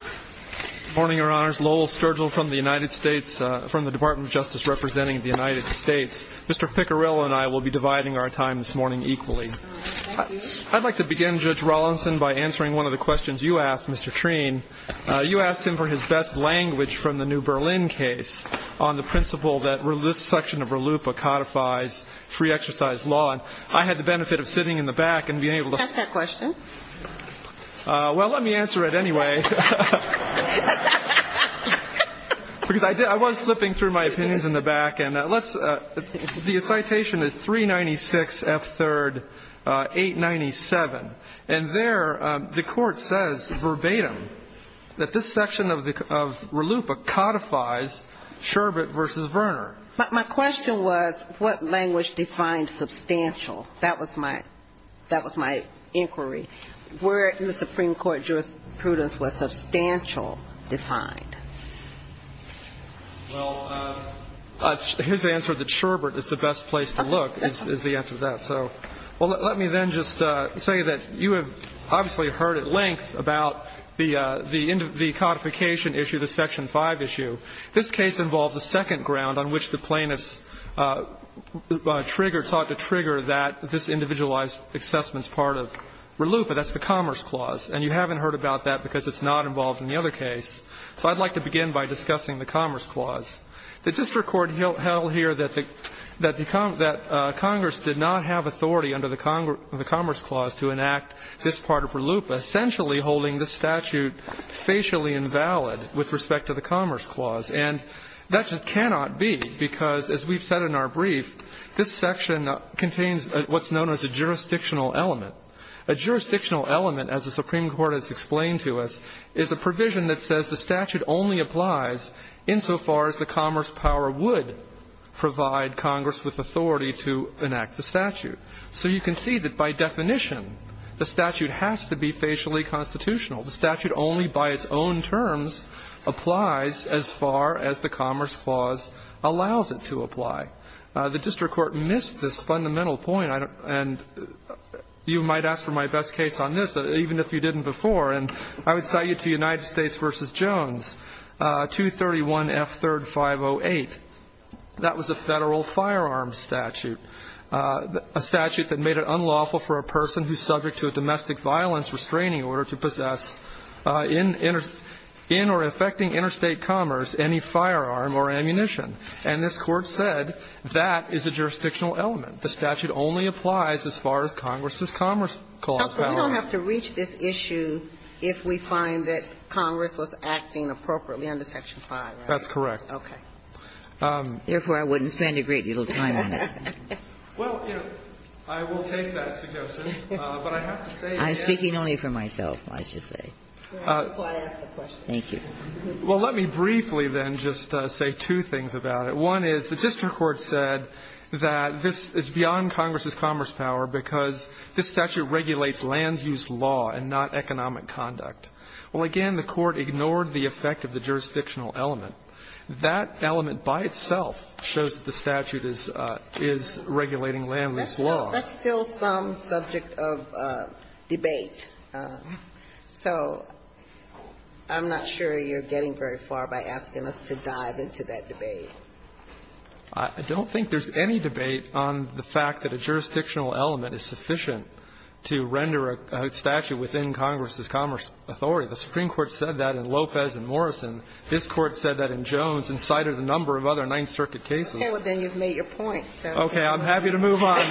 Good morning your honors, Lowell Sturgill from the United States, from the Department of Justice representing the United States. Mr. Picarello and I will be dividing our time this morning equally. I'd like to begin, Judge Rawlinson, by answering one of the questions you asked Mr. Treen. You asked him for his best language from the New Berlin case on the principle that this section of RLUIPA codifies free exercise law. I had the benefit of sitting in the back and being able to- Ask that question. Well, let me answer it anyway. Because I was flipping through my opinions in the back and let's, the citation is 396 F. 3rd 897. And there the court says verbatim that this section of RLUIPA codifies Sherbert v. Verner. My question was what language defined substantial? That was my, that was my inquiry. Where in the Supreme Court jurisprudence was substantial defined? Well, his answer that Sherbert is the best place to look is the answer to that. So, well, let me then just say that you have obviously heard at length about the end of this case, the identification issue, the section 5 issue. This case involves a second ground on which the plaintiffs trigger, sought to trigger that this individualized assessment is part of RLUIPA, that's the Commerce Clause. And you haven't heard about that because it's not involved in the other case. So I'd like to begin by discussing the Commerce Clause. The district court held here that the Congress did not have a statute that was valid with respect to the Commerce Clause. And that just cannot be, because as we've said in our brief, this section contains what's known as a jurisdictional element. A jurisdictional element, as the Supreme Court has explained to us, is a provision that says the statute only applies insofar as the Commerce power would provide Congress with authority to enact the statute. So you can see that by definition the statute has to be facially constitutional. The statute only by its own terms applies as far as the Commerce Clause allows it to apply. The district court missed this fundamental point, and you might ask for my best case on this, even if you didn't before, and I would cite you to United States v. Jones, 231F3-508. That was a Federal firearms statute, a statute that made it unlawful for a person who's subject to a domestic violence restraining order to possess in or affecting interstate commerce any firearm or ammunition. And this Court said that is a jurisdictional element. The statute only applies as far as Congress's Commerce Clause powers. Ginsburg. But we don't have to reach this issue if we find that Congress was acting appropriately under Section 5, right? That's correct. Okay. Therefore, I wouldn't spend a great deal of time on that. Well, you know, I will take that suggestion, but I have to say again that the statute is not a jurisdictional element. I'm speaking only for myself, I should say, before I ask a question. Thank you. Well, let me briefly then just say two things about it. One is the district court said that this is beyond Congress's commerce power because this statute regulates land-use law and not economic conduct. Well, again, the Court ignored the effect of the jurisdictional element. That element by itself shows that the statute is regulating land-use law. That's still some subject of debate. So I'm not sure you're getting very far by asking us to dive into that debate. I don't think there's any debate on the fact that a jurisdictional element is sufficient to render a statute within Congress's commerce authority. The Supreme Court said that in Lopez and Morrison. This Court said that in Jones and cited a number of other Ninth Circuit cases. Okay. Well, then you've made your point. Okay. I'm happy to move on.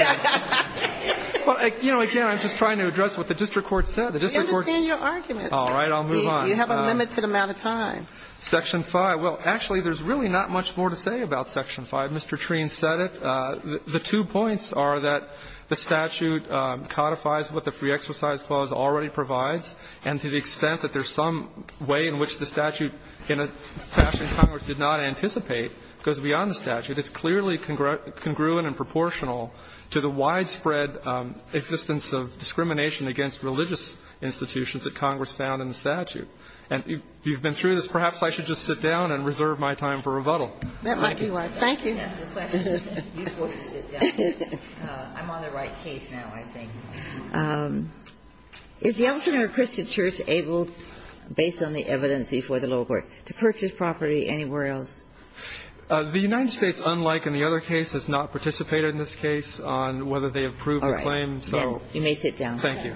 Well, you know, again, I'm just trying to address what the district court said. The district court. I understand your argument. All right. I'll move on. You have a limited amount of time. Section 5. Well, actually, there's really not much more to say about Section 5. Mr. Treene said it. The two points are that the statute codifies what the Free Exercise Clause already provides, and to the extent that there's some way in which the statute in a fashion Congress did not anticipate goes beyond the statute, it's clearly congruent and proportional to the widespread existence of discrimination against religious institutions that Congress found in the statute. And you've been through this. Perhaps I should just sit down and reserve my time for rebuttal. That might be wise. Thank you. I'm on the right case now, I think. Is the Elsinore Christian Church able, based on the evidence before the lower court, to purchase property anywhere else? The United States, unlike any other case, has not participated in this case on whether they approve a claim. So you may sit down. Thank you.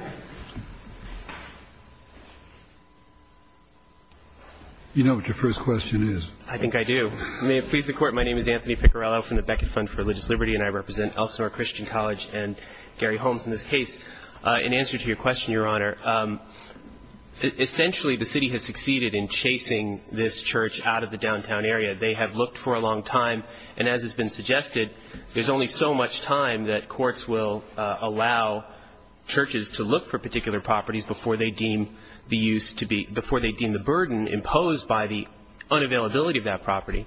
You know what your first question is. I think I do. May it please the Court. My name is Anthony Piccarello from the Beckett Fund for Religious Liberty, and I represent Elsinore Christian College and Gary Holmes in this case. In answer to your question, Your Honor, essentially the city has succeeded in chasing this church out of the downtown area. They have looked for a long time, and as has been suggested, there's only so much time that courts will allow churches to look for particular properties before they deem the use to be – before they deem the burden imposed by the unavailability of that property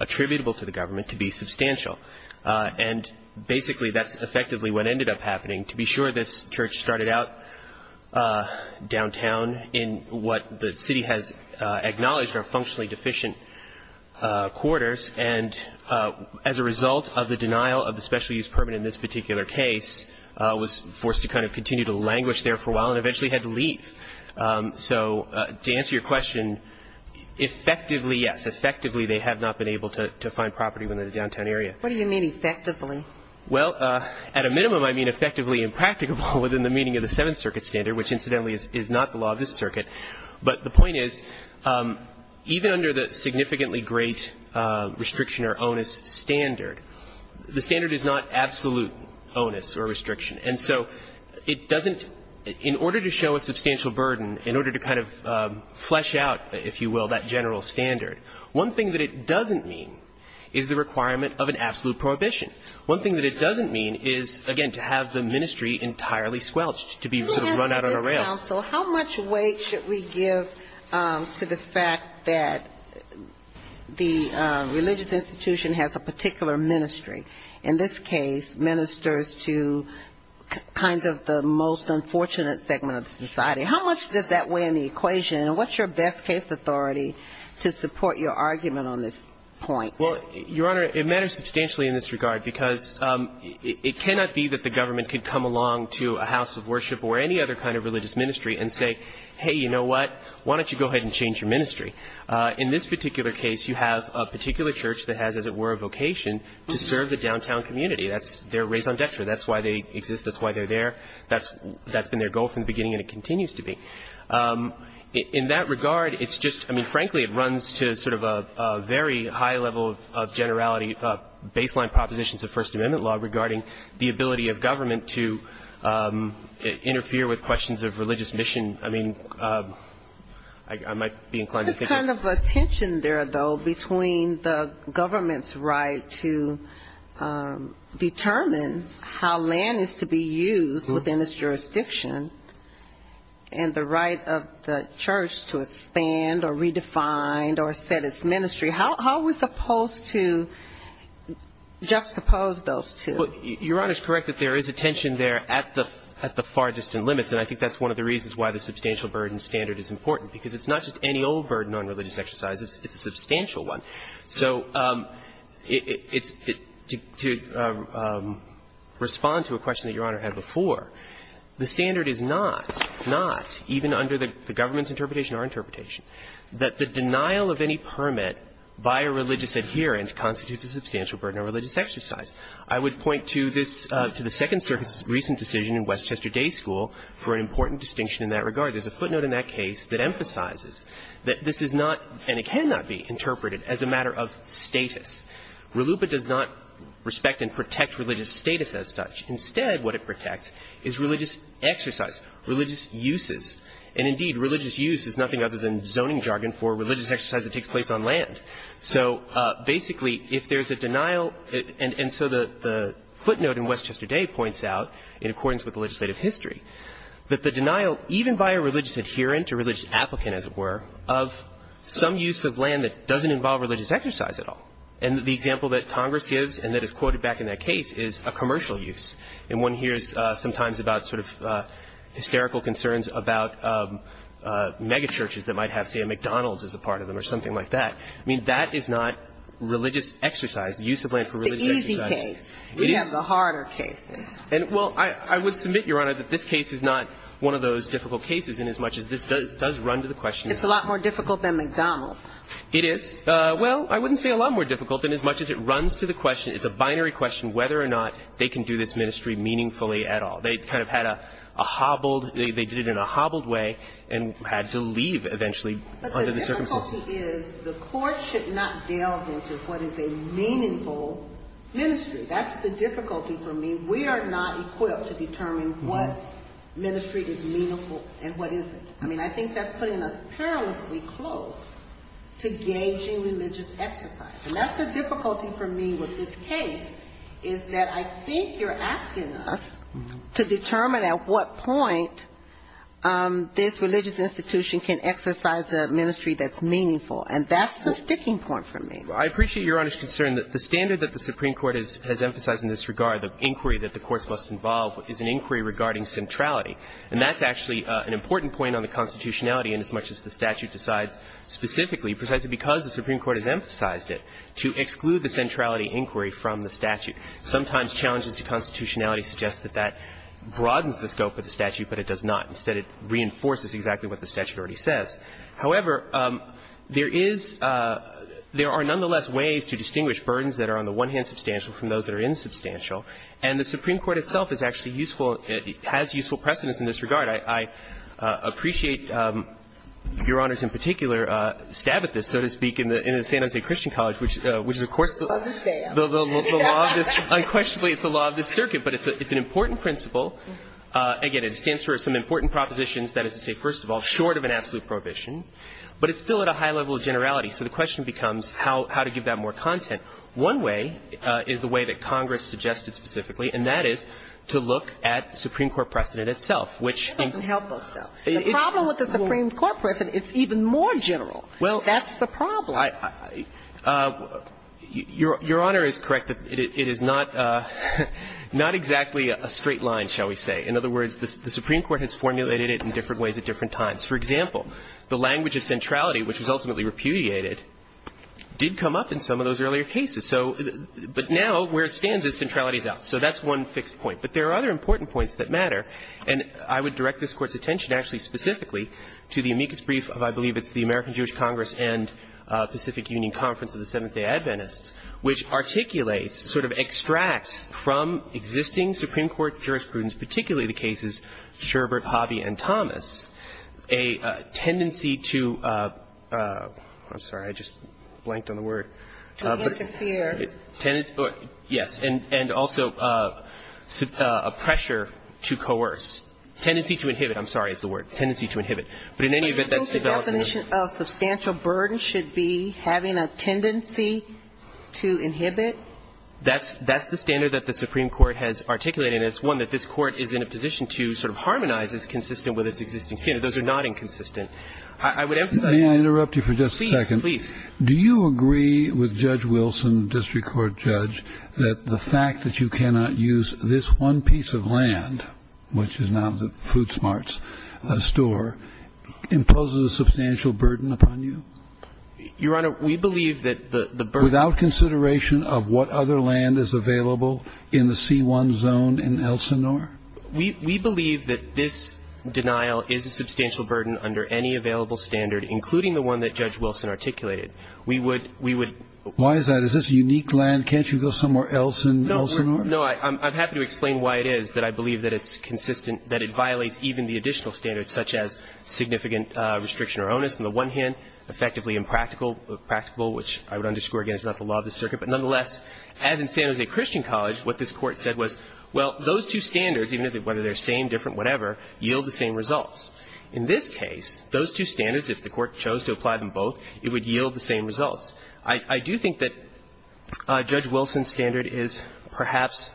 attributable to the government to be substantial. And basically that's effectively what ended up happening. To be sure, this church started out downtown in what the city has acknowledged are functionally deficient quarters, and as a result of the denial of the special use permit in this particular case, was forced to kind of continue to languish there for a while and eventually had to leave. So to answer your question, effectively, yes. Effectively, they have not been able to find property within the downtown area. What do you mean, effectively? Well, at a minimum, I mean effectively impracticable within the meaning of the Seventh Circuit standard, which incidentally is not the law of this circuit. But the point is, even under the significantly great restriction or onus standard, the standard is not absolute onus or restriction. And so it doesn't – in order to show a substantial burden, in order to kind of flesh out, if you will, that general standard, one thing that it doesn't mean is the requirement of an absolute prohibition. One thing that it doesn't mean is, again, to have the ministry entirely squelched, to be sort of run out of the rail. Let me ask you this, counsel. How much weight should we give to the fact that the religious institution has a particular ministry, in this case, ministers to kind of the most unfortunate segment of society? How much does that weigh in the equation? And what's your best case authority to support your argument on this point? Well, Your Honor, it matters substantially in this regard, because it cannot be that the government could come along to a house of worship or any other kind of religious ministry and say, hey, you know what, why don't you go ahead and change your ministry? In this particular case, you have a particular church that has, as it were, a vocation to serve the downtown community. That's their raison d'etre. That's why they exist. That's why they're there. That's been their goal from the beginning, and it continues to be. In that regard, it's just, I mean, frankly, it runs to sort of a very high level of generality of baseline propositions of First Amendment law regarding the ability of government to interfere with questions of religious mission. I mean, I might be inclined to say that. There's a kind of a tension there, though, between the government's right to determine how land is to be used within its jurisdiction and the right of the church to expand or redefine or set its ministry. How are we supposed to juxtapose those two? Your Honor's correct that there is a tension there at the far distant limits, and I think that's one of the reasons why the substantial burden standard is important, because it's not just any old burden on religious exercises. It's a substantial one. So it's to respond to a question that Your Honor had before. The standard is not, not, even under the government's interpretation or our interpretation, that the denial of any permit by a religious adherent constitutes a substantial burden on religious exercise. I would point to this, to the Second Circuit's recent decision in Westchester Day School for an important distinction in that regard. There's a footnote in that case that emphasizes that this is not, and it cannot be interpreted as a matter of status. RLUIPA does not respect and protect religious status as such. Instead, what it protects is religious exercise, religious uses. And indeed, religious use is nothing other than zoning jargon for religious exercise that takes place on land. So basically, if there's a denial, and so the footnote in Westchester Day points out, in accordance with the legislative history, that the denial, even by a religious adherent or religious applicant, as it were, of some use of land that doesn't involve religious exercise at all. And the example that Congress gives and that is quoted back in that case is a commercial use. And one hears sometimes about sort of hysterical concerns about megachurches that might have, say, a McDonald's as a part of them or something like that. I mean, that is not religious exercise, the use of land for religious exercise. It's the easy case. It is. We have the harder cases. And, well, I would submit, Your Honor, that this case is not one of those difficult cases inasmuch as this does run to the question of the question. It's a lot more difficult than McDonald's. It is. Well, I wouldn't say a lot more difficult inasmuch as it runs to the question of the binary question whether or not they can do this ministry meaningfully at all. They kind of had a hobbled, they did it in a hobbled way and had to leave eventually under the circumstances. But the difficulty is the Court should not delve into what is a meaningful ministry. That's the difficulty for me. We are not equipped to determine what ministry is meaningful and what isn't. I mean, I think that's putting us perilously close to gauging religious exercise. And that's the difficulty for me with this case, is that I think you're asking us to determine at what point this religious institution can exercise a ministry that's meaningful. And that's the sticking point for me. I appreciate Your Honor's concern. The standard that the Supreme Court has emphasized in this regard, the inquiry that the courts must involve, is an inquiry regarding centrality. And that's actually an important point on the constitutionality inasmuch as the statute decides specifically, precisely because the Supreme Court has emphasized it, to exclude the centrality inquiry from the statute. Sometimes challenges to constitutionality suggest that that broadens the scope of the statute, but it does not. Instead, it reinforces exactly what the statute already says. However, there is – there are nonetheless ways to distinguish burdens that are on the one hand substantial from those that are insubstantial. And the Supreme Court itself is actually useful – has useful precedents in this I appreciate Your Honor's, in particular, stab at this, so to speak, in the San Jose Christian College, which is, of course, the law of this – unquestionably, it's the law of this circuit. But it's an important principle. Again, it stands for some important propositions that is to say, first of all, short of an absolute prohibition, but it's still at a high level of generality. So the question becomes how to give that more content. One way is the way that Congress suggested specifically, and that is to look at the Supreme Court precedent itself, which in – It doesn't help us, though. The problem with the Supreme Court precedent, it's even more general. That's the problem. Your Honor is correct that it is not – not exactly a straight line, shall we say. In other words, the Supreme Court has formulated it in different ways at different times. For example, the language of centrality, which was ultimately repudiated, did come up in some of those earlier cases. So – but now, where it stands is centrality is out. So that's one fixed point. But there are other important points that matter, and I would direct this Court's attention actually specifically to the amicus brief of, I believe it's the American Jewish Congress and Pacific Union Conference of the Seventh-day Adventists, which articulates, sort of extracts from existing Supreme Court jurisprudence, particularly the cases Sherbert, Hobby, and Thomas, a tendency to – I'm sorry. I just blanked on the word. To interfere. Tendency – yes. And also a pressure to coerce. Tendency to inhibit. I'm sorry is the word. But in any event, that's developed in the – So you think the definition of substantial burden should be having a tendency to inhibit? That's the standard that the Supreme Court has articulated. And it's one that this Court is in a position to sort of harmonize as consistent with its existing standard. Those are not inconsistent. I would emphasize that. May I interrupt you for just a second? Please, please. Do you agree with Judge Wilson, district court judge, that the fact that you cannot use this one piece of land, which is now the Food Smarts store, imposes a substantial burden upon you? Your Honor, we believe that the burden – We believe that this denial is a substantial burden under any available standard, including the one that Judge Wilson articulated. We would – Why is that? Is this a unique land? Can't you go somewhere else in Elsinore? No. I'm happy to explain why it is that I believe that it's consistent, that it violates even the additional standards, such as significant restriction or onus on the one hand, effectively impractical – which I would underscore again is not the law of the circuit. But nonetheless, as in San Jose Christian College, what this Court said was, well, those two standards, whether they're same, different, whatever, yield the same results. In this case, those two standards, if the Court chose to apply them both, it would yield the same results. I do think that Judge Wilson's standard is perhaps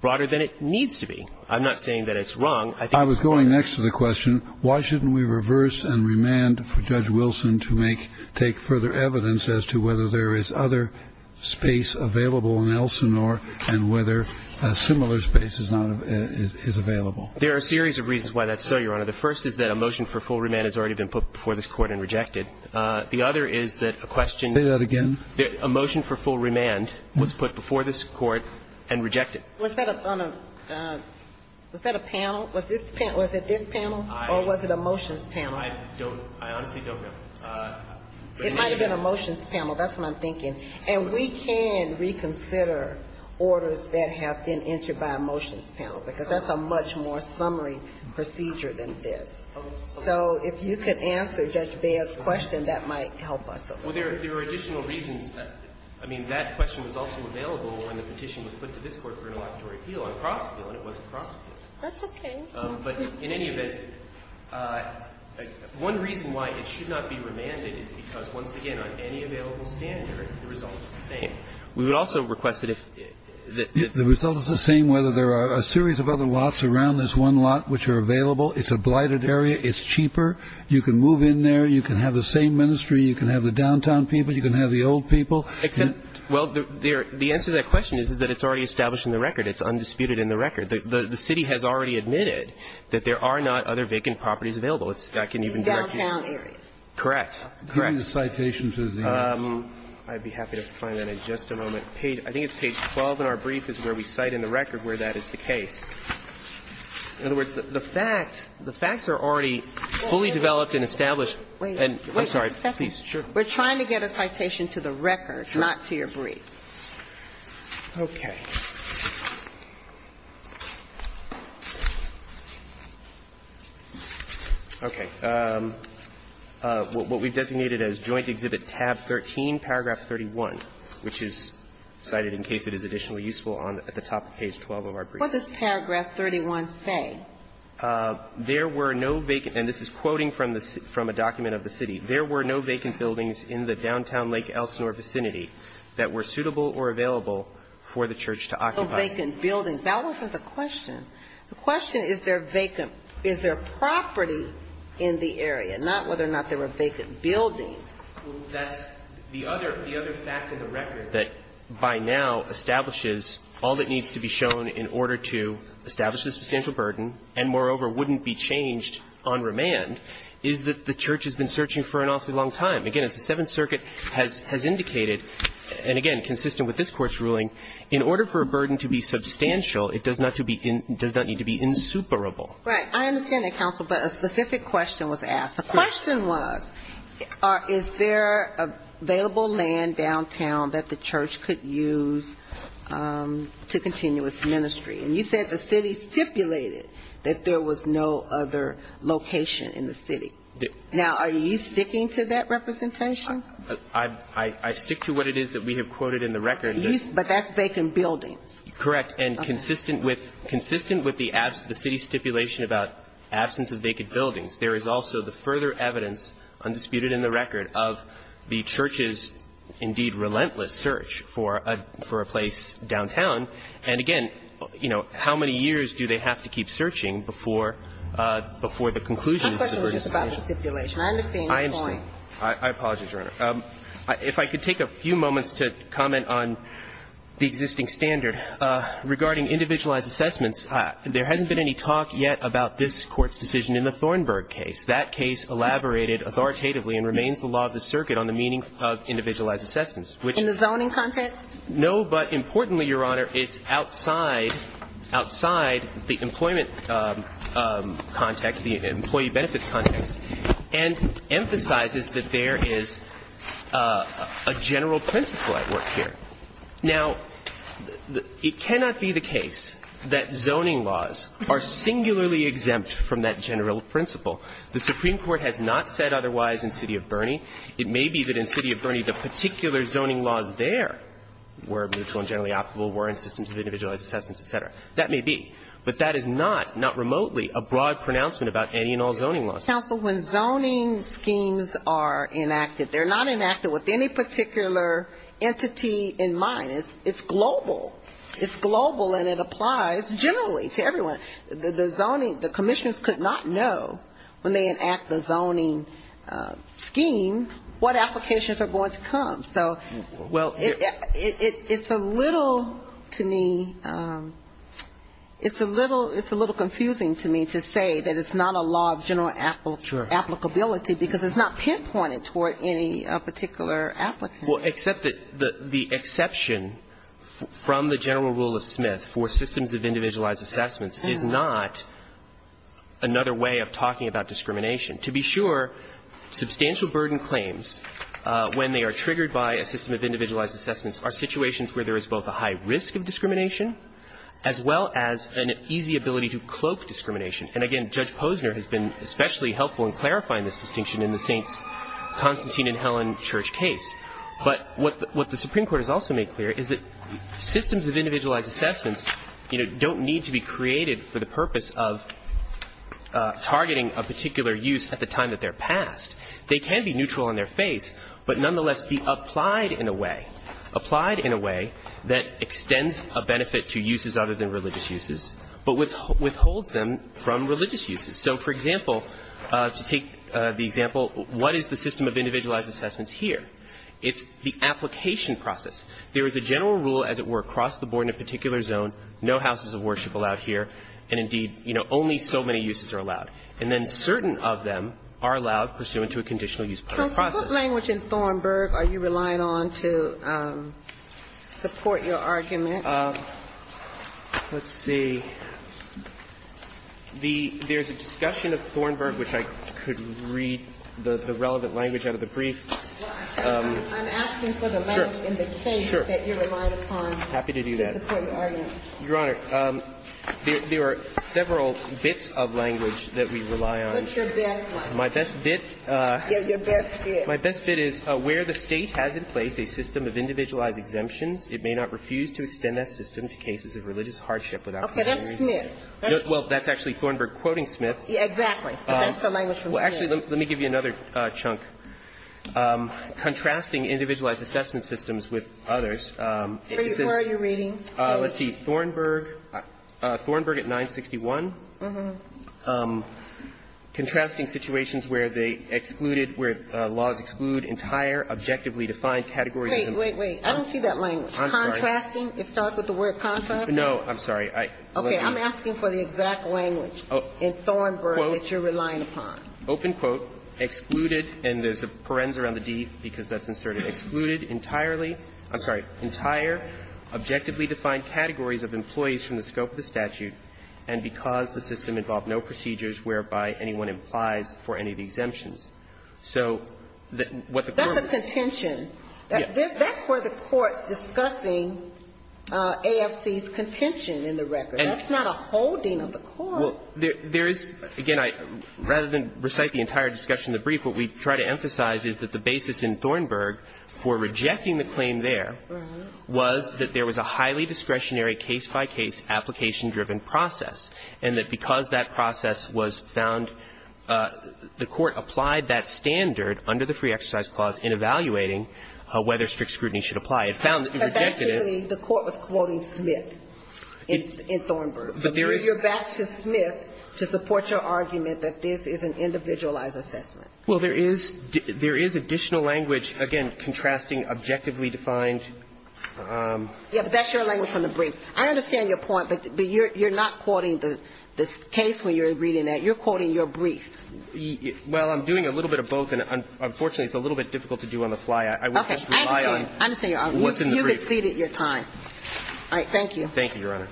broader than it needs to be. I'm not saying that it's wrong. I think it's broader. I was going next to the question, why shouldn't we reverse and remand for Judge Wilson to make – take further evidence as to whether there is other space available in Elsinore and whether a similar space is not – is available. There are a series of reasons why that's so, Your Honor. The first is that a motion for full remand has already been put before this Court and rejected. The other is that a question – Say that again. A motion for full remand was put before this Court and rejected. Was that on a – was that a panel? Was this – was it this panel or was it a motions panel? I don't – I honestly don't know. It might have been a motions panel. That's what I'm thinking. And we can reconsider orders that have been entered by a motions panel, because that's a much more summary procedure than this. So if you could answer Judge Beyer's question, that might help us a little. Well, there are additional reasons. I mean, that question was also available when the petition was put to this Court for an electoral appeal on Crossfield, and it wasn't Crossfield. That's okay. But in any event, one reason why it should not be remanded is because, once again, on any available standard, the result is the same. We would also request that if – The result is the same whether there are a series of other lots around this one lot which are available, it's a blighted area, it's cheaper, you can move in there, you can have the same ministry, you can have the downtown people, you can have the old people. Except – well, the answer to that question is that it's already established in the record. It's undisputed in the record. The city has already admitted that there are not other vacant properties available. It's – I can even – In the downtown area. Correct. Correct. The citations are there. I'd be happy to find that in just a moment. Page – I think it's page 12 in our brief is where we cite in the record where that is the case. In other words, the facts – the facts are already fully developed and established. Wait. I'm sorry. Please, sure. We're trying to get a citation to the record, not to your brief. Okay. Okay. What we've designated as joint exhibit tab 13, paragraph 31, which is cited in case it is additionally useful on – at the top of page 12 of our brief. What does paragraph 31 say? There were no vacant – and this is quoting from the – from a document of the city. There were no vacant buildings in the downtown Lake Elsinore vicinity that were suitable or available for the church to occupy. No vacant buildings. That wasn't the question. The question is there vacant – is there property in the area, not whether or not there were vacant buildings. That's the other – the other fact in the record that by now establishes all that needs to be shown in order to establish a substantial burden and, moreover, wouldn't be changed on remand is that the church has been searching for an awfully long time. Again, as the Seventh Circuit has indicated, and again, consistent with this Court's ruling, in order for a burden to be substantial, it does not to be – does not need to be insuperable. Right. I understand that, counsel, but a specific question was asked. The question was is there available land downtown that the church could use to continue its ministry? And you said the city stipulated that there was no other location in the city. Now, are you sticking to that representation? I – I stick to what it is that we have quoted in the record. But that's vacant buildings. Correct. And consistent with – consistent with the city stipulation about absence of vacant buildings, there is also the further evidence, undisputed in the record, of the church's, indeed, relentless search for a – for a place downtown. And again, you know, how many years do they have to keep searching before – before a conclusion is to be reached? My question was just about the stipulation. I understand your point. I understand. I apologize, Your Honor. If I could take a few moments to comment on the existing standard. Regarding individualized assessments, there hasn't been any talk yet about this Court's decision in the Thornburg case. That case elaborated authoritatively and remains the law of the circuit on the meaning of individualized assessments, which – In the zoning context? No, but importantly, Your Honor, it's outside – outside the employment context, the employee benefits context, and emphasizes that there is a general principle at work here. Now, it cannot be the case that zoning laws are singularly exempt from that general principle. The Supreme Court has not said otherwise in City of Burney. It may be that in City of Burney, the particular zoning laws there were mutually and generally applicable, were in systems of individualized assessments, et cetera. That may be. But that is not, not remotely, a broad pronouncement about any and all zoning laws. Counsel, when zoning schemes are enacted, they're not enacted with any particular entity in mind. It's global. It's global and it applies generally to everyone. The zoning – the commissioners could not know when they enact the zoning scheme what applications are going to come. So it's a little, to me, it's a little confusing to me to say that it's not a law of general applicability because it's not pinpointed toward any particular applicant. Well, except that the exception from the general rule of Smith for systems of individualized assessments is not another way of talking about discrimination. To be sure, substantial burden claims, when they are triggered by a system of individualized assessments, are situations where there is both a high risk of discrimination as well as an easy ability to cloak discrimination. And again, Judge Posner has been especially helpful in clarifying this distinction in the Saints Constantine and Helen Church case. But what the Supreme Court has also made clear is that systems of individualized assessments, you know, don't need to be created for the purpose of targeting a particular use at the time that they're passed. They can be neutral in their face, but nonetheless be applied in a way, applied in a way that extends a benefit to uses other than religious uses, but withholds them from religious uses. So, for example, to take the example, what is the system of individualized assessments here? It's the application process. There is a general rule, as it were, across the board in a particular zone, no houses And then certain of them are allowed pursuant to a conditional use process. Ginsburg. But what language in Thornburg are you relying on to support your argument? Let's see. The – there's a discussion of Thornburg, which I could read the relevant language out of the brief. I'm asking for the language in the case that you're relying upon to support your argument. I'm happy to do that. Your Honor, there are several bits of language that we rely on. What's your best one? My best bit. Yeah, your best bit. My best bit is, where the State has in place a system of individualized exemptions, it may not refuse to extend that system to cases of religious hardship without consideration. Okay. That's Smith. Well, that's actually Thornburg quoting Smith. Exactly. But that's the language from Smith. Well, actually, let me give you another chunk. Contrasting individualized assessment systems with others. Where are you reading? Let's see. Thornburg. Thornburg at 961. Contrasting situations where they excluded – where laws exclude entire objectively defined categories. Wait, wait, wait. I don't see that language. I'm sorry. Contrasting? It starts with the word contrast? No. I'm sorry. I'm asking for the exact language in Thornburg that you're relying upon. Open quote, excluded, and there's a parens around the D because that's inserted. Excluded entirely – I'm sorry, entire objectively defined categories of employees from the scope of the statute, and because the system involved no procedures whereby anyone implies for any of the exemptions. So what the Court – That's a contention. That's where the Court's discussing AFC's contention in the record. That's not a holding of the Court. There is – again, rather than recite the entire discussion in the brief, what we try to emphasize is that the basis in Thornburg for rejecting the claim there was that there was a highly discretionary case-by-case application-driven process, and that because that process was found, the Court applied that standard under the Free Exercise Clause in evaluating whether strict scrutiny should apply. It found that if you rejected it – But basically, the Court was quoting Smith in Thornburg. But there is – But you're back to Smith to support your argument that this is an individualized assessment. Well, there is – there is additional language, again, contrasting objectively defined. Yeah, but that's your language on the brief. I understand your point, but you're not quoting the case when you're reading that. You're quoting your brief. Well, I'm doing a little bit of both, and unfortunately, it's a little bit difficult to do on the fly. I would just rely on what's in the brief. Okay. I understand. I understand your argument. You've exceeded your time. All right. Thank you. Thank you, Your Honor.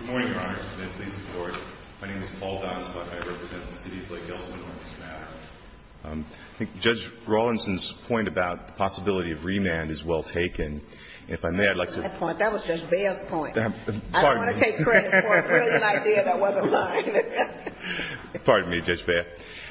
Good morning, Your Honor. Smith, Lisa Thornburg. My name is Paul Donsbach. I represent the city of Lake Elsinore. Mr. Maddow? I think Judge Rawlinson's point about possibility of remand is well taken. And if I may, I'd like to – That was Judge Baird's point. Pardon me. I don't want to take credit for a brilliant idea that wasn't mine. Pardon me, Judge Baird.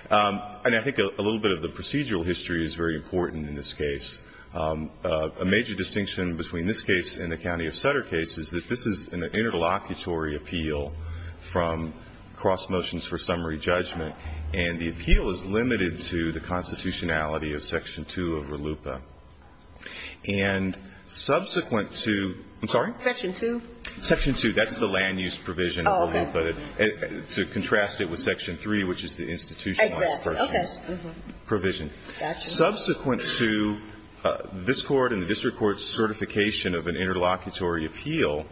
And I think a little bit of the procedural history is very important in this case. A major distinction between this case and the County of Sutter case is that this is an interlocutory appeal from cross motions for summary judgment. And the appeal is limited to the constitutionality of Section 2 of RLUIPA. And subsequent to – I'm sorry? Section 2? That's the land use provision of RLUIPA. To contrast it with Section 3, which is the institutionalized provision. Subsequent to this Court and the district court's certification of an interlocutory appeal,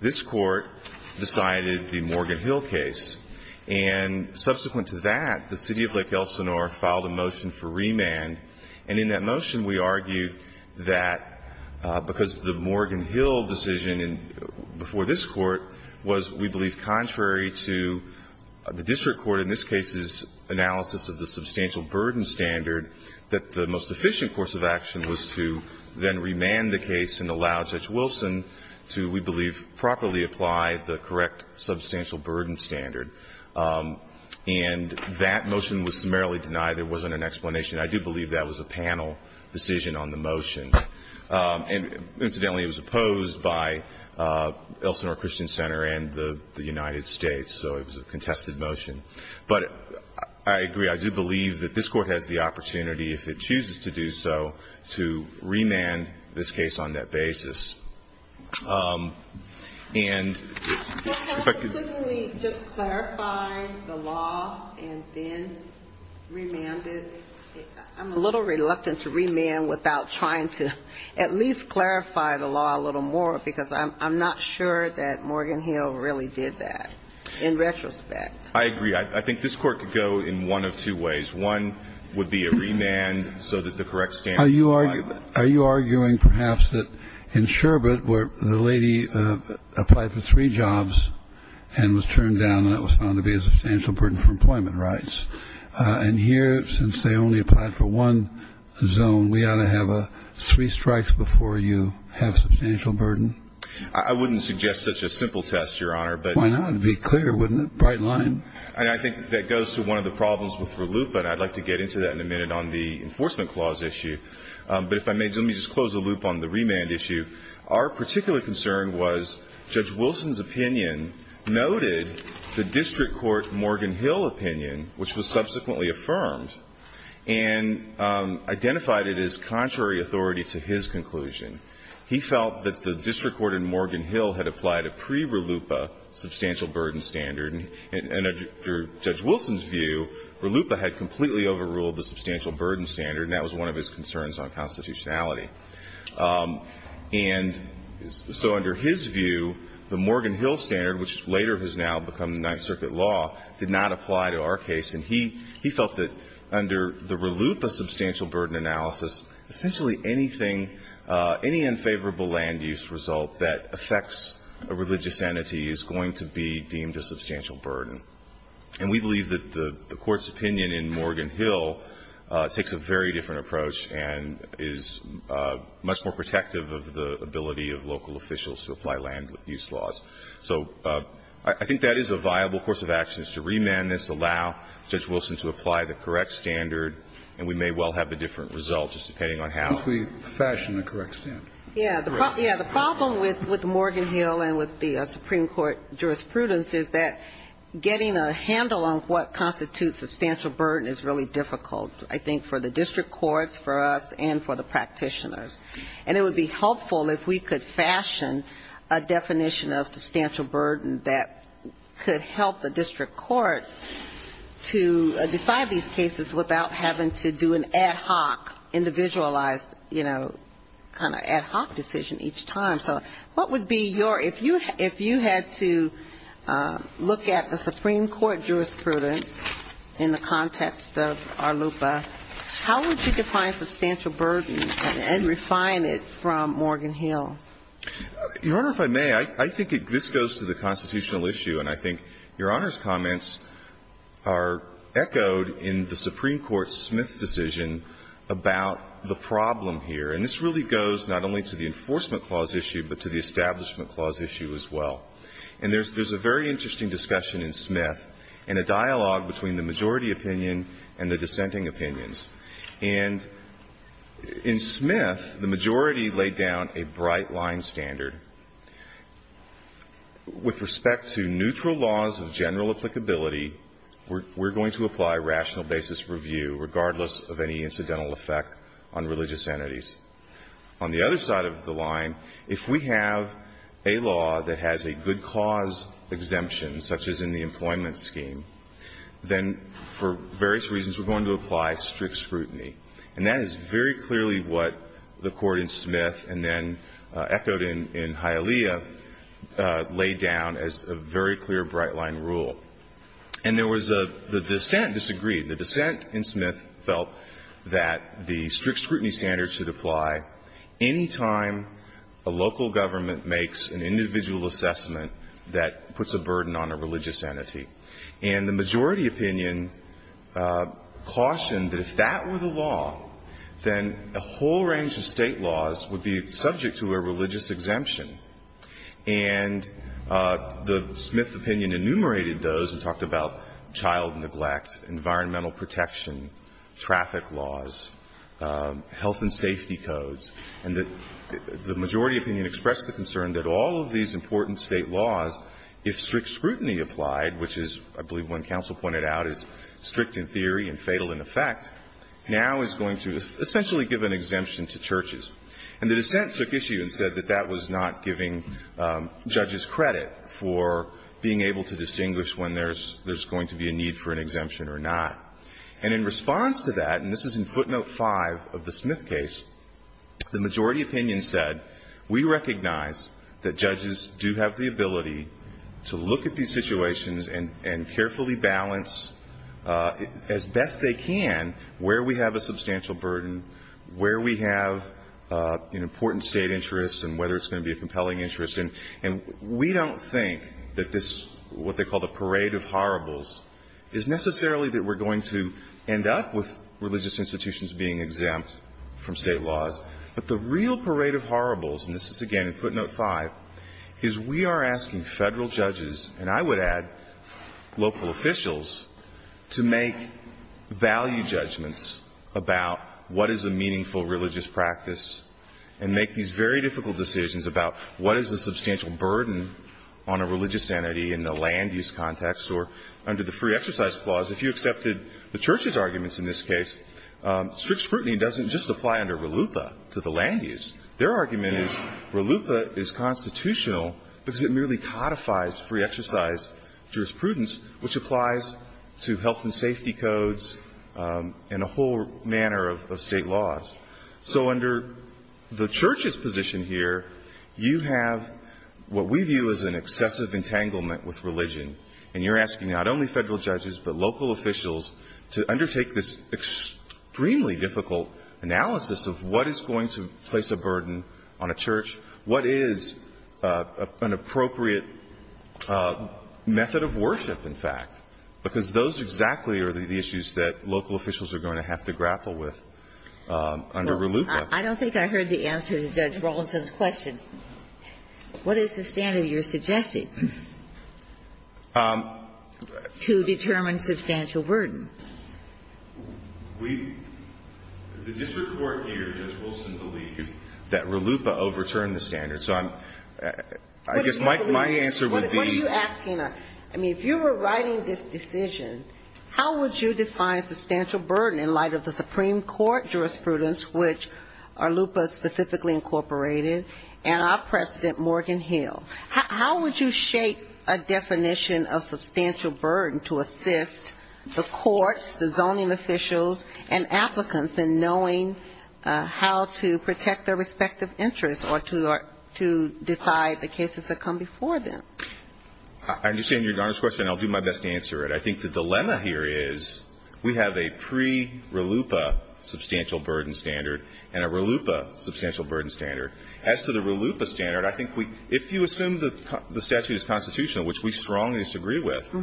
this Court decided the Morgan Hill case. And subsequent to that, the city of Lake Elsinore filed a motion for remand. And in that motion, we argued that because the Morgan Hill decision before this Court was, we believe, contrary to the district court, in this case's analysis of the substantial burden standard, that the most efficient course of action was to then remand the case and allow Judge Wilson to, we believe, properly apply the correct substantial burden standard. And that motion was summarily denied. There wasn't an explanation. I do believe that was a panel decision on the motion. And incidentally, it was opposed by Elsinore Christian Center and the United States, so it was a contested motion. But I agree. I do believe that this Court has the opportunity, if it chooses to do so, to remand this case on that basis. And if I could just clarify the law and then remand it. I'm a little reluctant to remand without trying to at least clarify the law a little more, because I'm not sure that Morgan Hill really did that, in retrospect. I agree. I think this Court could go in one of two ways. One would be a remand so that the correct standard would apply. Are you arguing perhaps that in Sherbert, where the lady applied for three jobs and was turned down and it was found to be a substantial burden for employment rights, and here, since they only applied for one zone, we ought to have three strikes before you have substantial burden? I wouldn't suggest such a simple test, Your Honor. Why not? It would be clear, wouldn't it? Bright line. And I think that goes to one of the problems with RLUIPA, and I'd like to get into that in a minute on the enforcement clause issue. But if I may, let me just close the loop on the remand issue. Our particular concern was Judge Wilson's opinion noted the district court Morgan Hill opinion, which was subsequently affirmed, and identified it as contrary authority to his conclusion. He felt that the district court in Morgan Hill had applied a pre-RLUIPA substantial burden standard, and under Judge Wilson's view, RLUIPA had completely overruled the substantial burden standard, and that was one of his concerns on constitutionality. And so under his view, the Morgan Hill standard, which later has now become the Ninth Circuit law, did not apply to our case. And he felt that under the RLUIPA substantial burden analysis, essentially anything, any unfavorable land use result that affects a religious entity is going to be deemed a substantial burden. And we believe that the Court's opinion in Morgan Hill takes a very different approach, and is much more protective of the ability of local officials to apply land use laws. So I think that is a viable course of action, is to remand this, allow Judge Wilson to apply the correct standard, and we may well have a different result, just depending on how we fashion the correct standard. Yeah. The problem with Morgan Hill and with the Supreme Court jurisprudence is that getting a handle on what constitutes a substantial burden is really difficult, I think, for the district courts, for us, and for the practitioners. And it would be helpful if we could fashion a definition of substantial burden that could help the district courts to decide these cases without having to do an ad hoc, individualized, you know, kind of ad hoc decision each time. So what would be your, if you had to look at the Supreme Court jurisprudence in the Supreme Court, how would you define it from Morgan Hill? Your Honor, if I may, I think this goes to the constitutional issue, and I think Your Honor's comments are echoed in the Supreme Court's Smith decision about the problem here. And this really goes not only to the Enforcement Clause issue, but to the Establishment Clause issue as well. And there's a very interesting discussion in Smith, and a dialogue between the majority opinion and the dissenting opinions. And in Smith, the majority laid down a bright-line standard. With respect to neutral laws of general applicability, we're going to apply rational basis review, regardless of any incidental effect on religious entities. On the other side of the line, if we have a law that has a good cause exemption, such as in the employment scheme, then for various reasons, we're going to apply strict scrutiny. And that is very clearly what the Court in Smith and then echoed in Hialeah laid down as a very clear bright-line rule. And there was a the dissent disagreed. The dissent in Smith felt that the strict scrutiny standards should apply any time a local government makes an individual assessment that puts a burden on a religious entity. And the majority opinion cautioned that if that were the law, then a whole range of State laws would be subject to a religious exemption. And the Smith opinion enumerated those and talked about child neglect, environmental protection, traffic laws, health and safety codes. And the majority opinion expressed the concern that all of these important State laws, if strict scrutiny applied, which is, I believe when counsel pointed out, is strict in theory and fatal in effect, now is going to essentially give an exemption to churches. And the dissent took issue and said that that was not giving judges credit for being able to distinguish when there's going to be a need for an exemption or not. And in response to that, and this is in footnote 5 of the Smith case, the majority opinion said, we recognize that judges do have the ability to look at these situations and carefully balance as best they can where we have a substantial burden, where we have an important State interest, and whether it's going to be a compelling interest. And we don't think that this, what they call the parade of horribles, is necessarily that we're going to end up with religious institutions being exempt from State laws. But the real parade of horribles, and this is again in footnote 5, is we are asking Federal judges, and I would add local officials, to make value judgments about what is a meaningful religious practice and make these very difficult decisions about what is a substantial burden on a religious entity in the land use context or under the free exercise clause. If you accepted the church's arguments in this case, strict scrutiny doesn't just apply under RLUIPA to the land use. Their argument is RLUIPA is constitutional because it merely codifies free exercise jurisprudence, which applies to health and safety codes and a whole manner of State laws. So under the church's position here, you have what we view as an excessive entanglement with religion, and you're asking not only Federal judges but local officials to undertake this extremely difficult analysis of what is going to place a burden on a church, what is an appropriate method of worship, in fact, because those exactly are the issues that local officials are going to have to grapple with under RLUIPA. Well, I don't think I heard the answer to Judge Rawlinson's question. What is the standard you're suggesting to determine substantial burden? We – the district court here, Judge Wilson, believes that RLUIPA overturned the standard, so I'm – I guess my answer would be – How would you define substantial burden in light of the Supreme Court jurisprudence, which RLUIPA specifically incorporated, and our President Morgan Hill? How would you shape a definition of substantial burden to assist the courts, the zoning officials, and applicants in knowing how to protect their respective interests or to decide the cases that come before them? I understand Your Honor's question. I'll do my best to answer it. I think the dilemma here is we have a pre-RLUIPA substantial burden standard and a RLUIPA substantial burden standard. As to the RLUIPA standard, I think we – if you assume the statute is constitutional, which we strongly disagree with,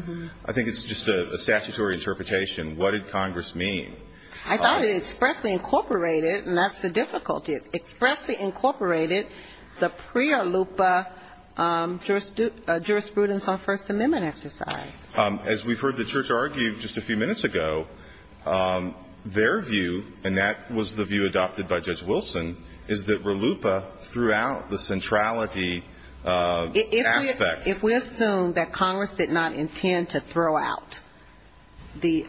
I think it's just a statutory interpretation. What did Congress mean? I thought it expressly incorporated – and that's the difficulty – it expressly incorporated the pre-RLUIPA jurisprudence on First Amendment exercise. As we've heard the Church argue just a few minutes ago, their view, and that was the view adopted by Judge Wilson, is that RLUIPA threw out the centrality aspect. If we assume that Congress did not intend to throw out the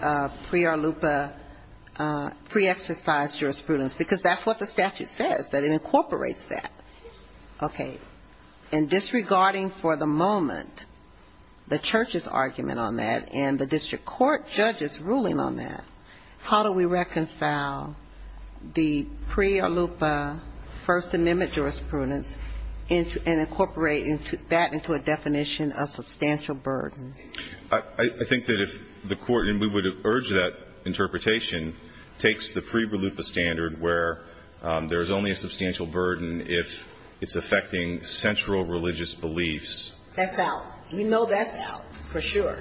pre-RLUIPA pre-exercise jurisprudence, because that's what the statute says, that it incorporates that, okay, and disregarding for the moment the Church's argument on that and the district court judge's ruling on that, how do we reconcile the pre-RLUIPA First Amendment jurisprudence and incorporate that into a definition of substantial burden? I think that if the Court – and we would urge that interpretation – takes the pre-RLUIPA standard where there is only a substantial burden if it's affecting central religious beliefs. That's out. We know that's out, for sure.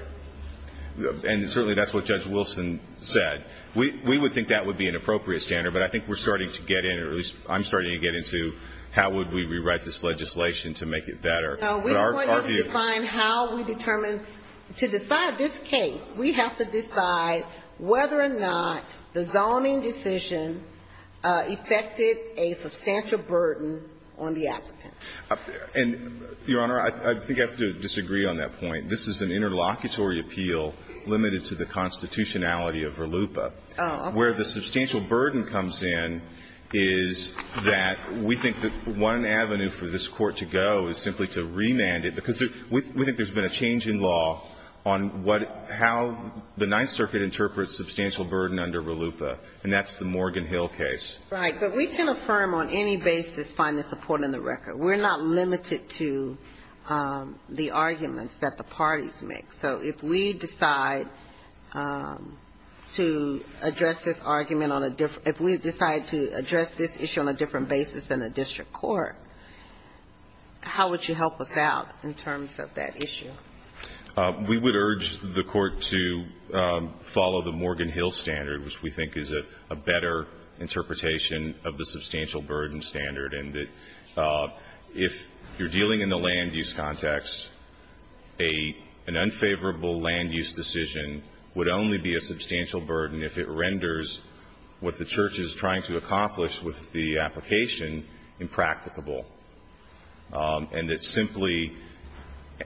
And certainly that's what Judge Wilson said. We would think that would be an appropriate standard, but I think we're starting to get in, or at least I'm starting to get into, how would we rewrite this legislation to make it better. No, we want you to define how we determine. To decide this case, we have to decide whether or not the zoning decision affected a substantial burden on the applicant. And, Your Honor, I think I have to disagree on that point. This is an interlocutory appeal limited to the constitutionality of RLUIPA. Oh, okay. Where the substantial burden comes in is that we think that one avenue for this Court to go is simply to remand it. Because we think there's been a change in law on what – how the Ninth Circuit interprets substantial burden under RLUIPA, and that's the Morgan Hill case. Right. But we can affirm on any basis, find the support in the record. We're not limited to the arguments that the parties make. So if we decide to address this argument on a different – if we decide to address this issue on a different basis than a district court, how would you help us out in terms of that issue? We would urge the Court to follow the Morgan Hill standard, which we think is a better interpretation of the substantial burden standard, and that if you're dealing in the land-use context, an unfavorable land-use decision would only be a substantial burden if it renders what the Church is trying to accomplish with the application impracticable, and that simply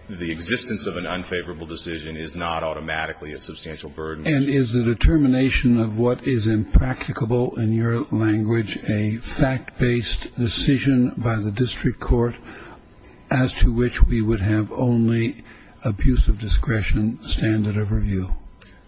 the existence of an unfavorable decision is not automatically a substantial burden. And is the determination of what is impracticable in your language a fact-based decision by the district court as to which we would have only abuse of discretion standard of review?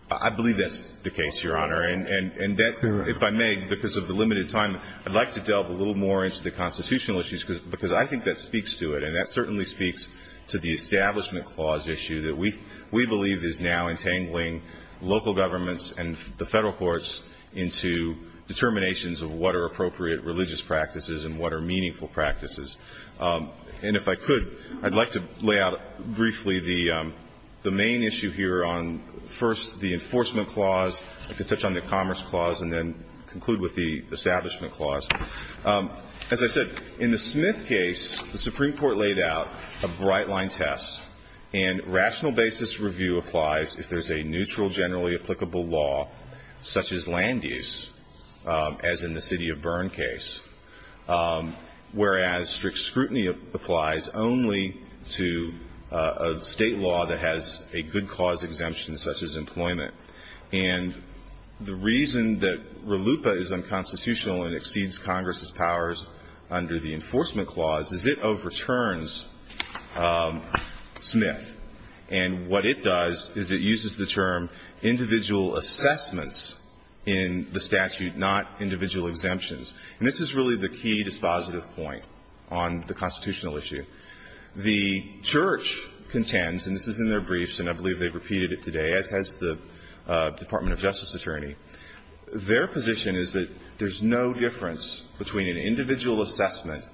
I believe that's the case, Your Honor. Correct. And that, if I may, because of the limited time, I'd like to delve a little more into the constitutional issues, because I think that speaks to it, and that certainly speaks to the Establishment Clause issue that we believe is now entangling local practices and what are meaningful practices. And if I could, I'd like to lay out briefly the main issue here on, first, the Enforcement Clause, to touch on the Commerce Clause, and then conclude with the Establishment Clause. As I said, in the Smith case, the Supreme Court laid out a bright-line test, and rational basis review applies if there's a neutral, generally applicable law, such as land use, as in the City of Bern case, whereas strict scrutiny applies only to a State law that has a good cause exemption, such as employment. And the reason that RLUIPA is unconstitutional and exceeds Congress's powers under the Enforcement Clause is it overturns Smith. And what it does is it uses the term individual assessments in the statute, not individual exemptions. And this is really the key dispositive point on the constitutional issue. The Church contends, and this is in their briefs, and I believe they've repeated it today, as has the Department of Justice attorney. Their position is that there's no difference between an individual assessment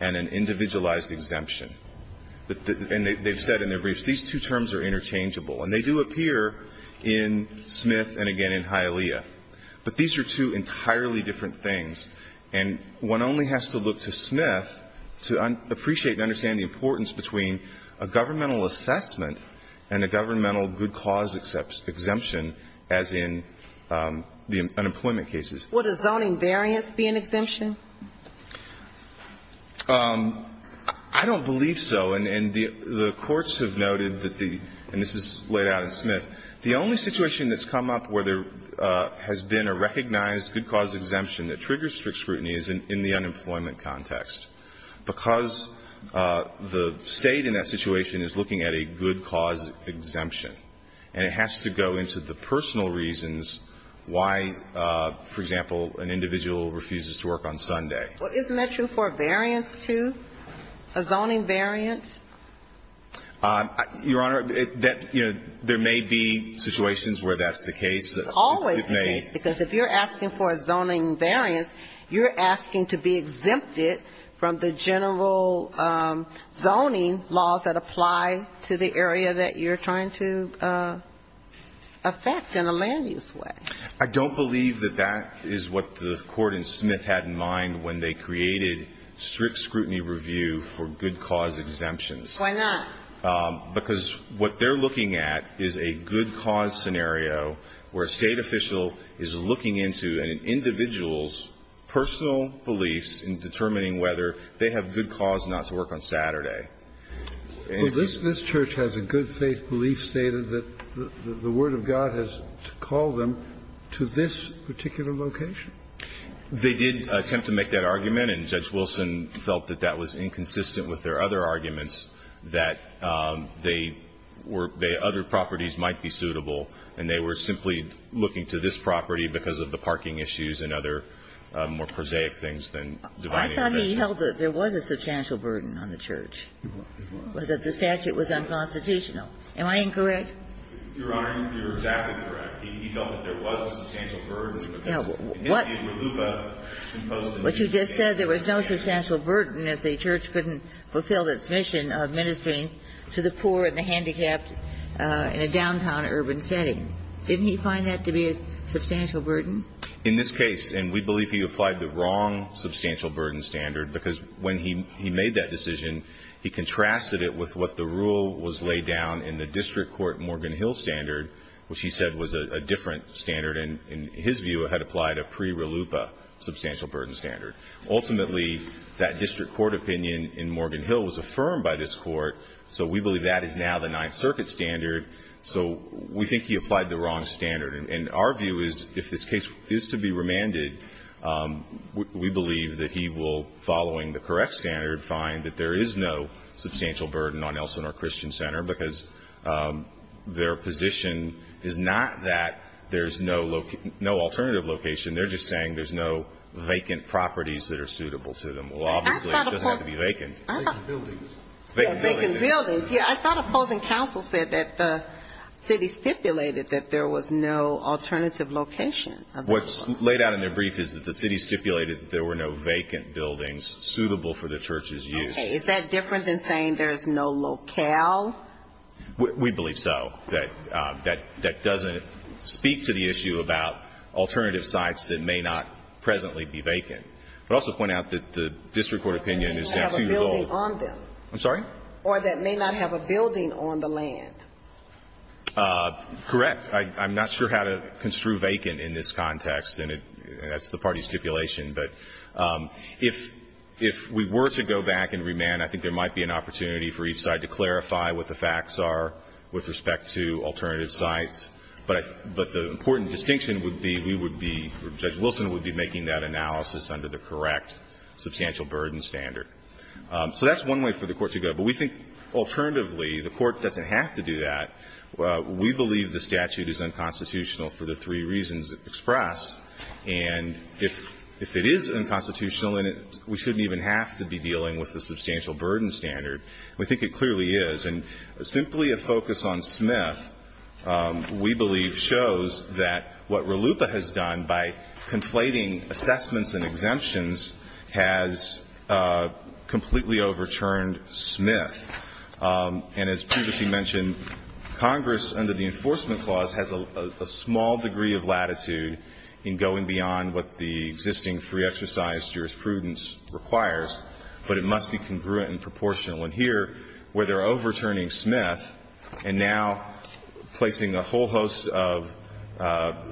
and an individualized exemption. And they've said in their briefs, these two terms are interchangeable. And they do appear in Smith and, again, in Hialeah. But these are two entirely different things. And one only has to look to Smith to appreciate and understand the importance between a governmental assessment and a governmental good cause exemption, as in the unemployment cases. What, does zoning variance be an exemption? I don't believe so. And the courts have noted that the – and this is laid out in Smith. The only situation that's come up where there has been a recognized good cause exemption that triggers strict scrutiny is in the unemployment context, because the State in that situation is looking at a good cause exemption. And it has to go into the personal reasons why, for example, an individual refuses to work on Sunday. Well, isn't that true for a variance, too? A zoning variance? Your Honor, there may be situations where that's the case. It's always the case. Because if you're asking for a zoning variance, you're asking to be exempted from the general zoning laws that apply to the area that you're trying to affect in a land-use way. I don't believe that that is what the Court in Smith had in mind when they created strict scrutiny review for good cause exemptions. Why not? Because what they're looking at is a good cause scenario where a State official is looking into an individual's personal beliefs in determining whether they have good cause not to work on Saturday. This Church has a good faith belief stated that the word of God has to call them to this particular location. They did attempt to make that argument, and Judge Wilson felt that that was inconsistent with their other arguments, that they were the other properties might be suitable, and they were simply looking to this property because of the parking issues and other more prosaic things than divine intervention. I thought he held that there was a substantial burden on the Church. Was that the statute was unconstitutional? Am I incorrect? Your Honor, you're exactly correct. He felt that there was a substantial burden. Now, what you just said, there was no substantial burden if the Church couldn't fulfill its mission of ministering to the poor and the handicapped in a downtown urban setting. Didn't he find that to be a substantial burden? In this case, and we believe he applied the wrong substantial burden standard because when he made that decision, he contrasted it with what the rule was laid down in the district court Morgan Hill standard, which he said was a different standard and, in his view, had applied a pre-Rallupa substantial burden standard. Ultimately, that district court opinion in Morgan Hill was affirmed by this court, so we believe that is now the Ninth Circuit standard. So we think he applied the wrong standard. And our view is if this case is to be remanded, we believe that he will, following the correct standard, find that there is no substantial burden on Elsinore Christian Center because their position is not that there's no alternative location. They're just saying there's no vacant properties that are suitable to them. Well, obviously, it doesn't have to be vacant. I thought opposing counsel said that the city stipulated that there was no vacant buildings suitable for the church's use. Okay. Is that different than saying there is no locale? We believe so. That doesn't speak to the issue about alternative sites that may not presently be vacant. I would also point out that the district court opinion is now 2 years old. Or that may not have a building on them. I'm sorry? Or that may not have a building on the land. Correct. I'm not sure how to construe vacant in this context. And that's the party stipulation. But if we were to go back and remand, I think there might be an opportunity for each side to clarify what the facts are with respect to alternative sites. But the important distinction would be we would be, Judge Wilson would be making that analysis under the correct substantial burden standard. So that's one way for the Court to go. But we think alternatively the Court doesn't have to do that. We believe the statute is unconstitutional for the three reasons expressed. And if it is unconstitutional, we shouldn't even have to be dealing with the substantial burden standard. We think it clearly is. And simply a focus on Smith, we believe, shows that what RLUIPA has done by conflating assessments and exemptions has completely overturned Smith. And as previously mentioned, Congress under the Enforcement Clause has a small degree of latitude in going beyond what the existing free exercise jurisprudence requires, but it must be congruent and proportional. And here, where they're overturning Smith and now placing a whole host of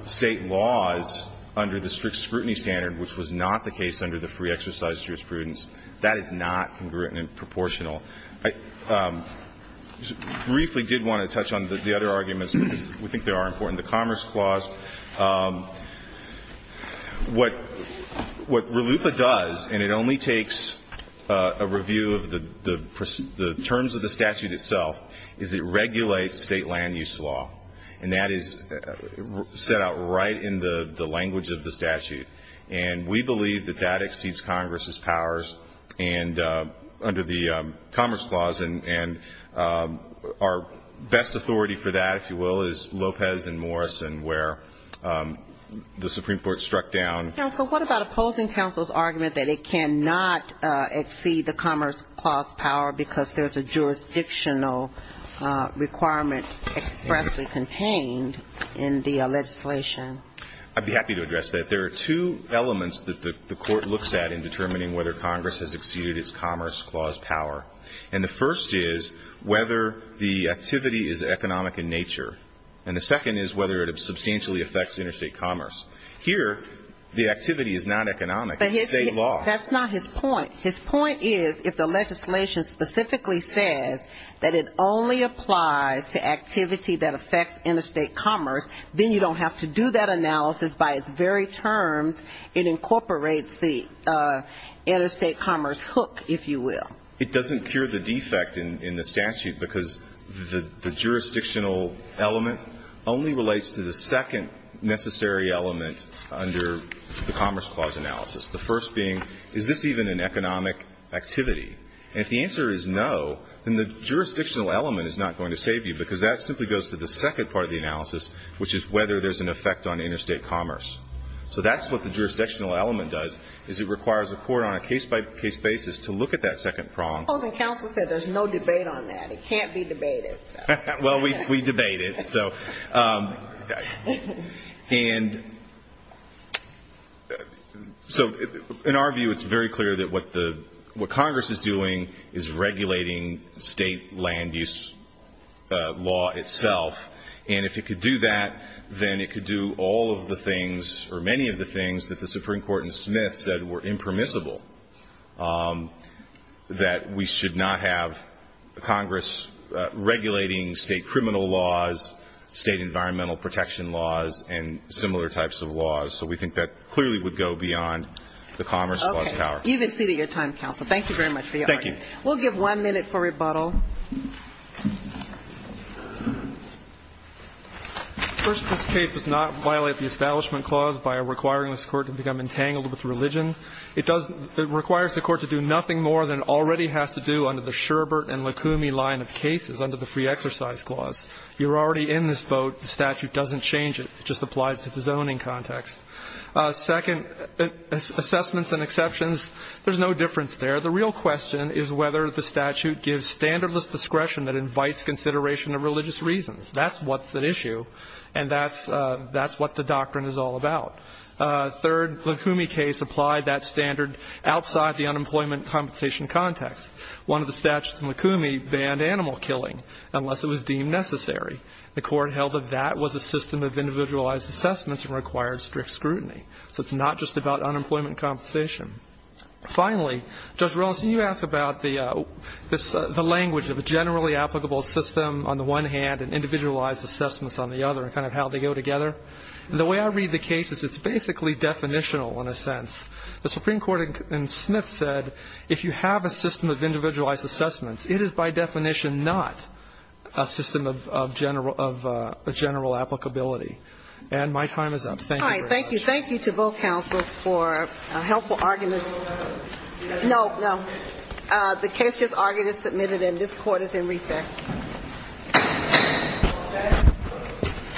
State laws under the strict scrutiny standard, which was not the case under the free exercise jurisprudence, that is not congruent and proportional. I briefly did want to touch on the other arguments, because we think they are important, the Commerce Clause. What RLUIPA does, and it only takes a review of the terms of the statute itself, is it regulates State land use law. And that is set out right in the language of the statute. And we believe that that exceeds Congress's powers under the Commerce Clause. And our best authority for that, if you will, is Lopez and Morrison, where the Supreme Court struck down. Counsel, what about opposing counsel's argument that it cannot exceed the Commerce Clause power because there's a jurisdictional requirement expressly contained in the legislation? I'd be happy to address that. But there are two elements that the Court looks at in determining whether Congress has exceeded its Commerce Clause power. And the first is whether the activity is economic in nature. And the second is whether it substantially affects interstate commerce. Here, the activity is not economic. It's State law. That's not his point. commerce, then you don't have to do that analysis by its very terms. It incorporates the interstate commerce hook, if you will. It doesn't cure the defect in the statute because the jurisdictional element only relates to the second necessary element under the Commerce Clause analysis, the first being, is this even an economic activity? And if the answer is no, then the jurisdictional element is not going to save you because that simply goes to the second part of the analysis, which is whether there's an effect on interstate commerce. So that's what the jurisdictional element does, is it requires the Court on a case-by-case basis to look at that second prong. Opposing counsel said there's no debate on that. It can't be debated. Well, we debate it. And so in our view, it's very clear that what Congress is doing is regulating State land use law itself. And if it could do that, then it could do all of the things or many of the things that the Supreme Court in Smith said were impermissible, that we should not have Congress regulating State criminal laws, State environmental protection laws, and similar types of laws. So we think that clearly would go beyond the Commerce Clause power. Okay. You've exceeded your time, counsel. Thank you very much for your argument. Thank you. We'll give one minute for rebuttal. First, this case does not violate the Establishment Clause by requiring this Court to become entangled with religion. It requires the Court to do nothing more than it already has to do under the Sherbert and Lukumi line of cases under the Free Exercise Clause. You're already in this vote. The statute doesn't change it. It just applies to the zoning context. Second, assessments and exceptions, there's no difference there. The real question is whether the statute gives standardless discretion that invites consideration of religious reasons. That's what's at issue, and that's what the doctrine is all about. Third, the Lukumi case applied that standard outside the unemployment compensation context. One of the statutes in Lukumi banned animal killing unless it was deemed necessary. The Court held that that was a system of individualized assessments and required strict scrutiny. So it's not just about unemployment compensation. Finally, Judge Rollins, can you ask about the language of a generally applicable system on the one hand and individualized assessments on the other and kind of how they go together? The way I read the case is it's basically definitional in a sense. The Supreme Court in Smith said if you have a system of individualized assessments, it is by definition not a system of general applicability. And my time is up. Thank you very much. All right. Thank you. Thank you to both counsel for helpful arguments. No, no. The case just argued and submitted, and this Court is in recess. Thank you.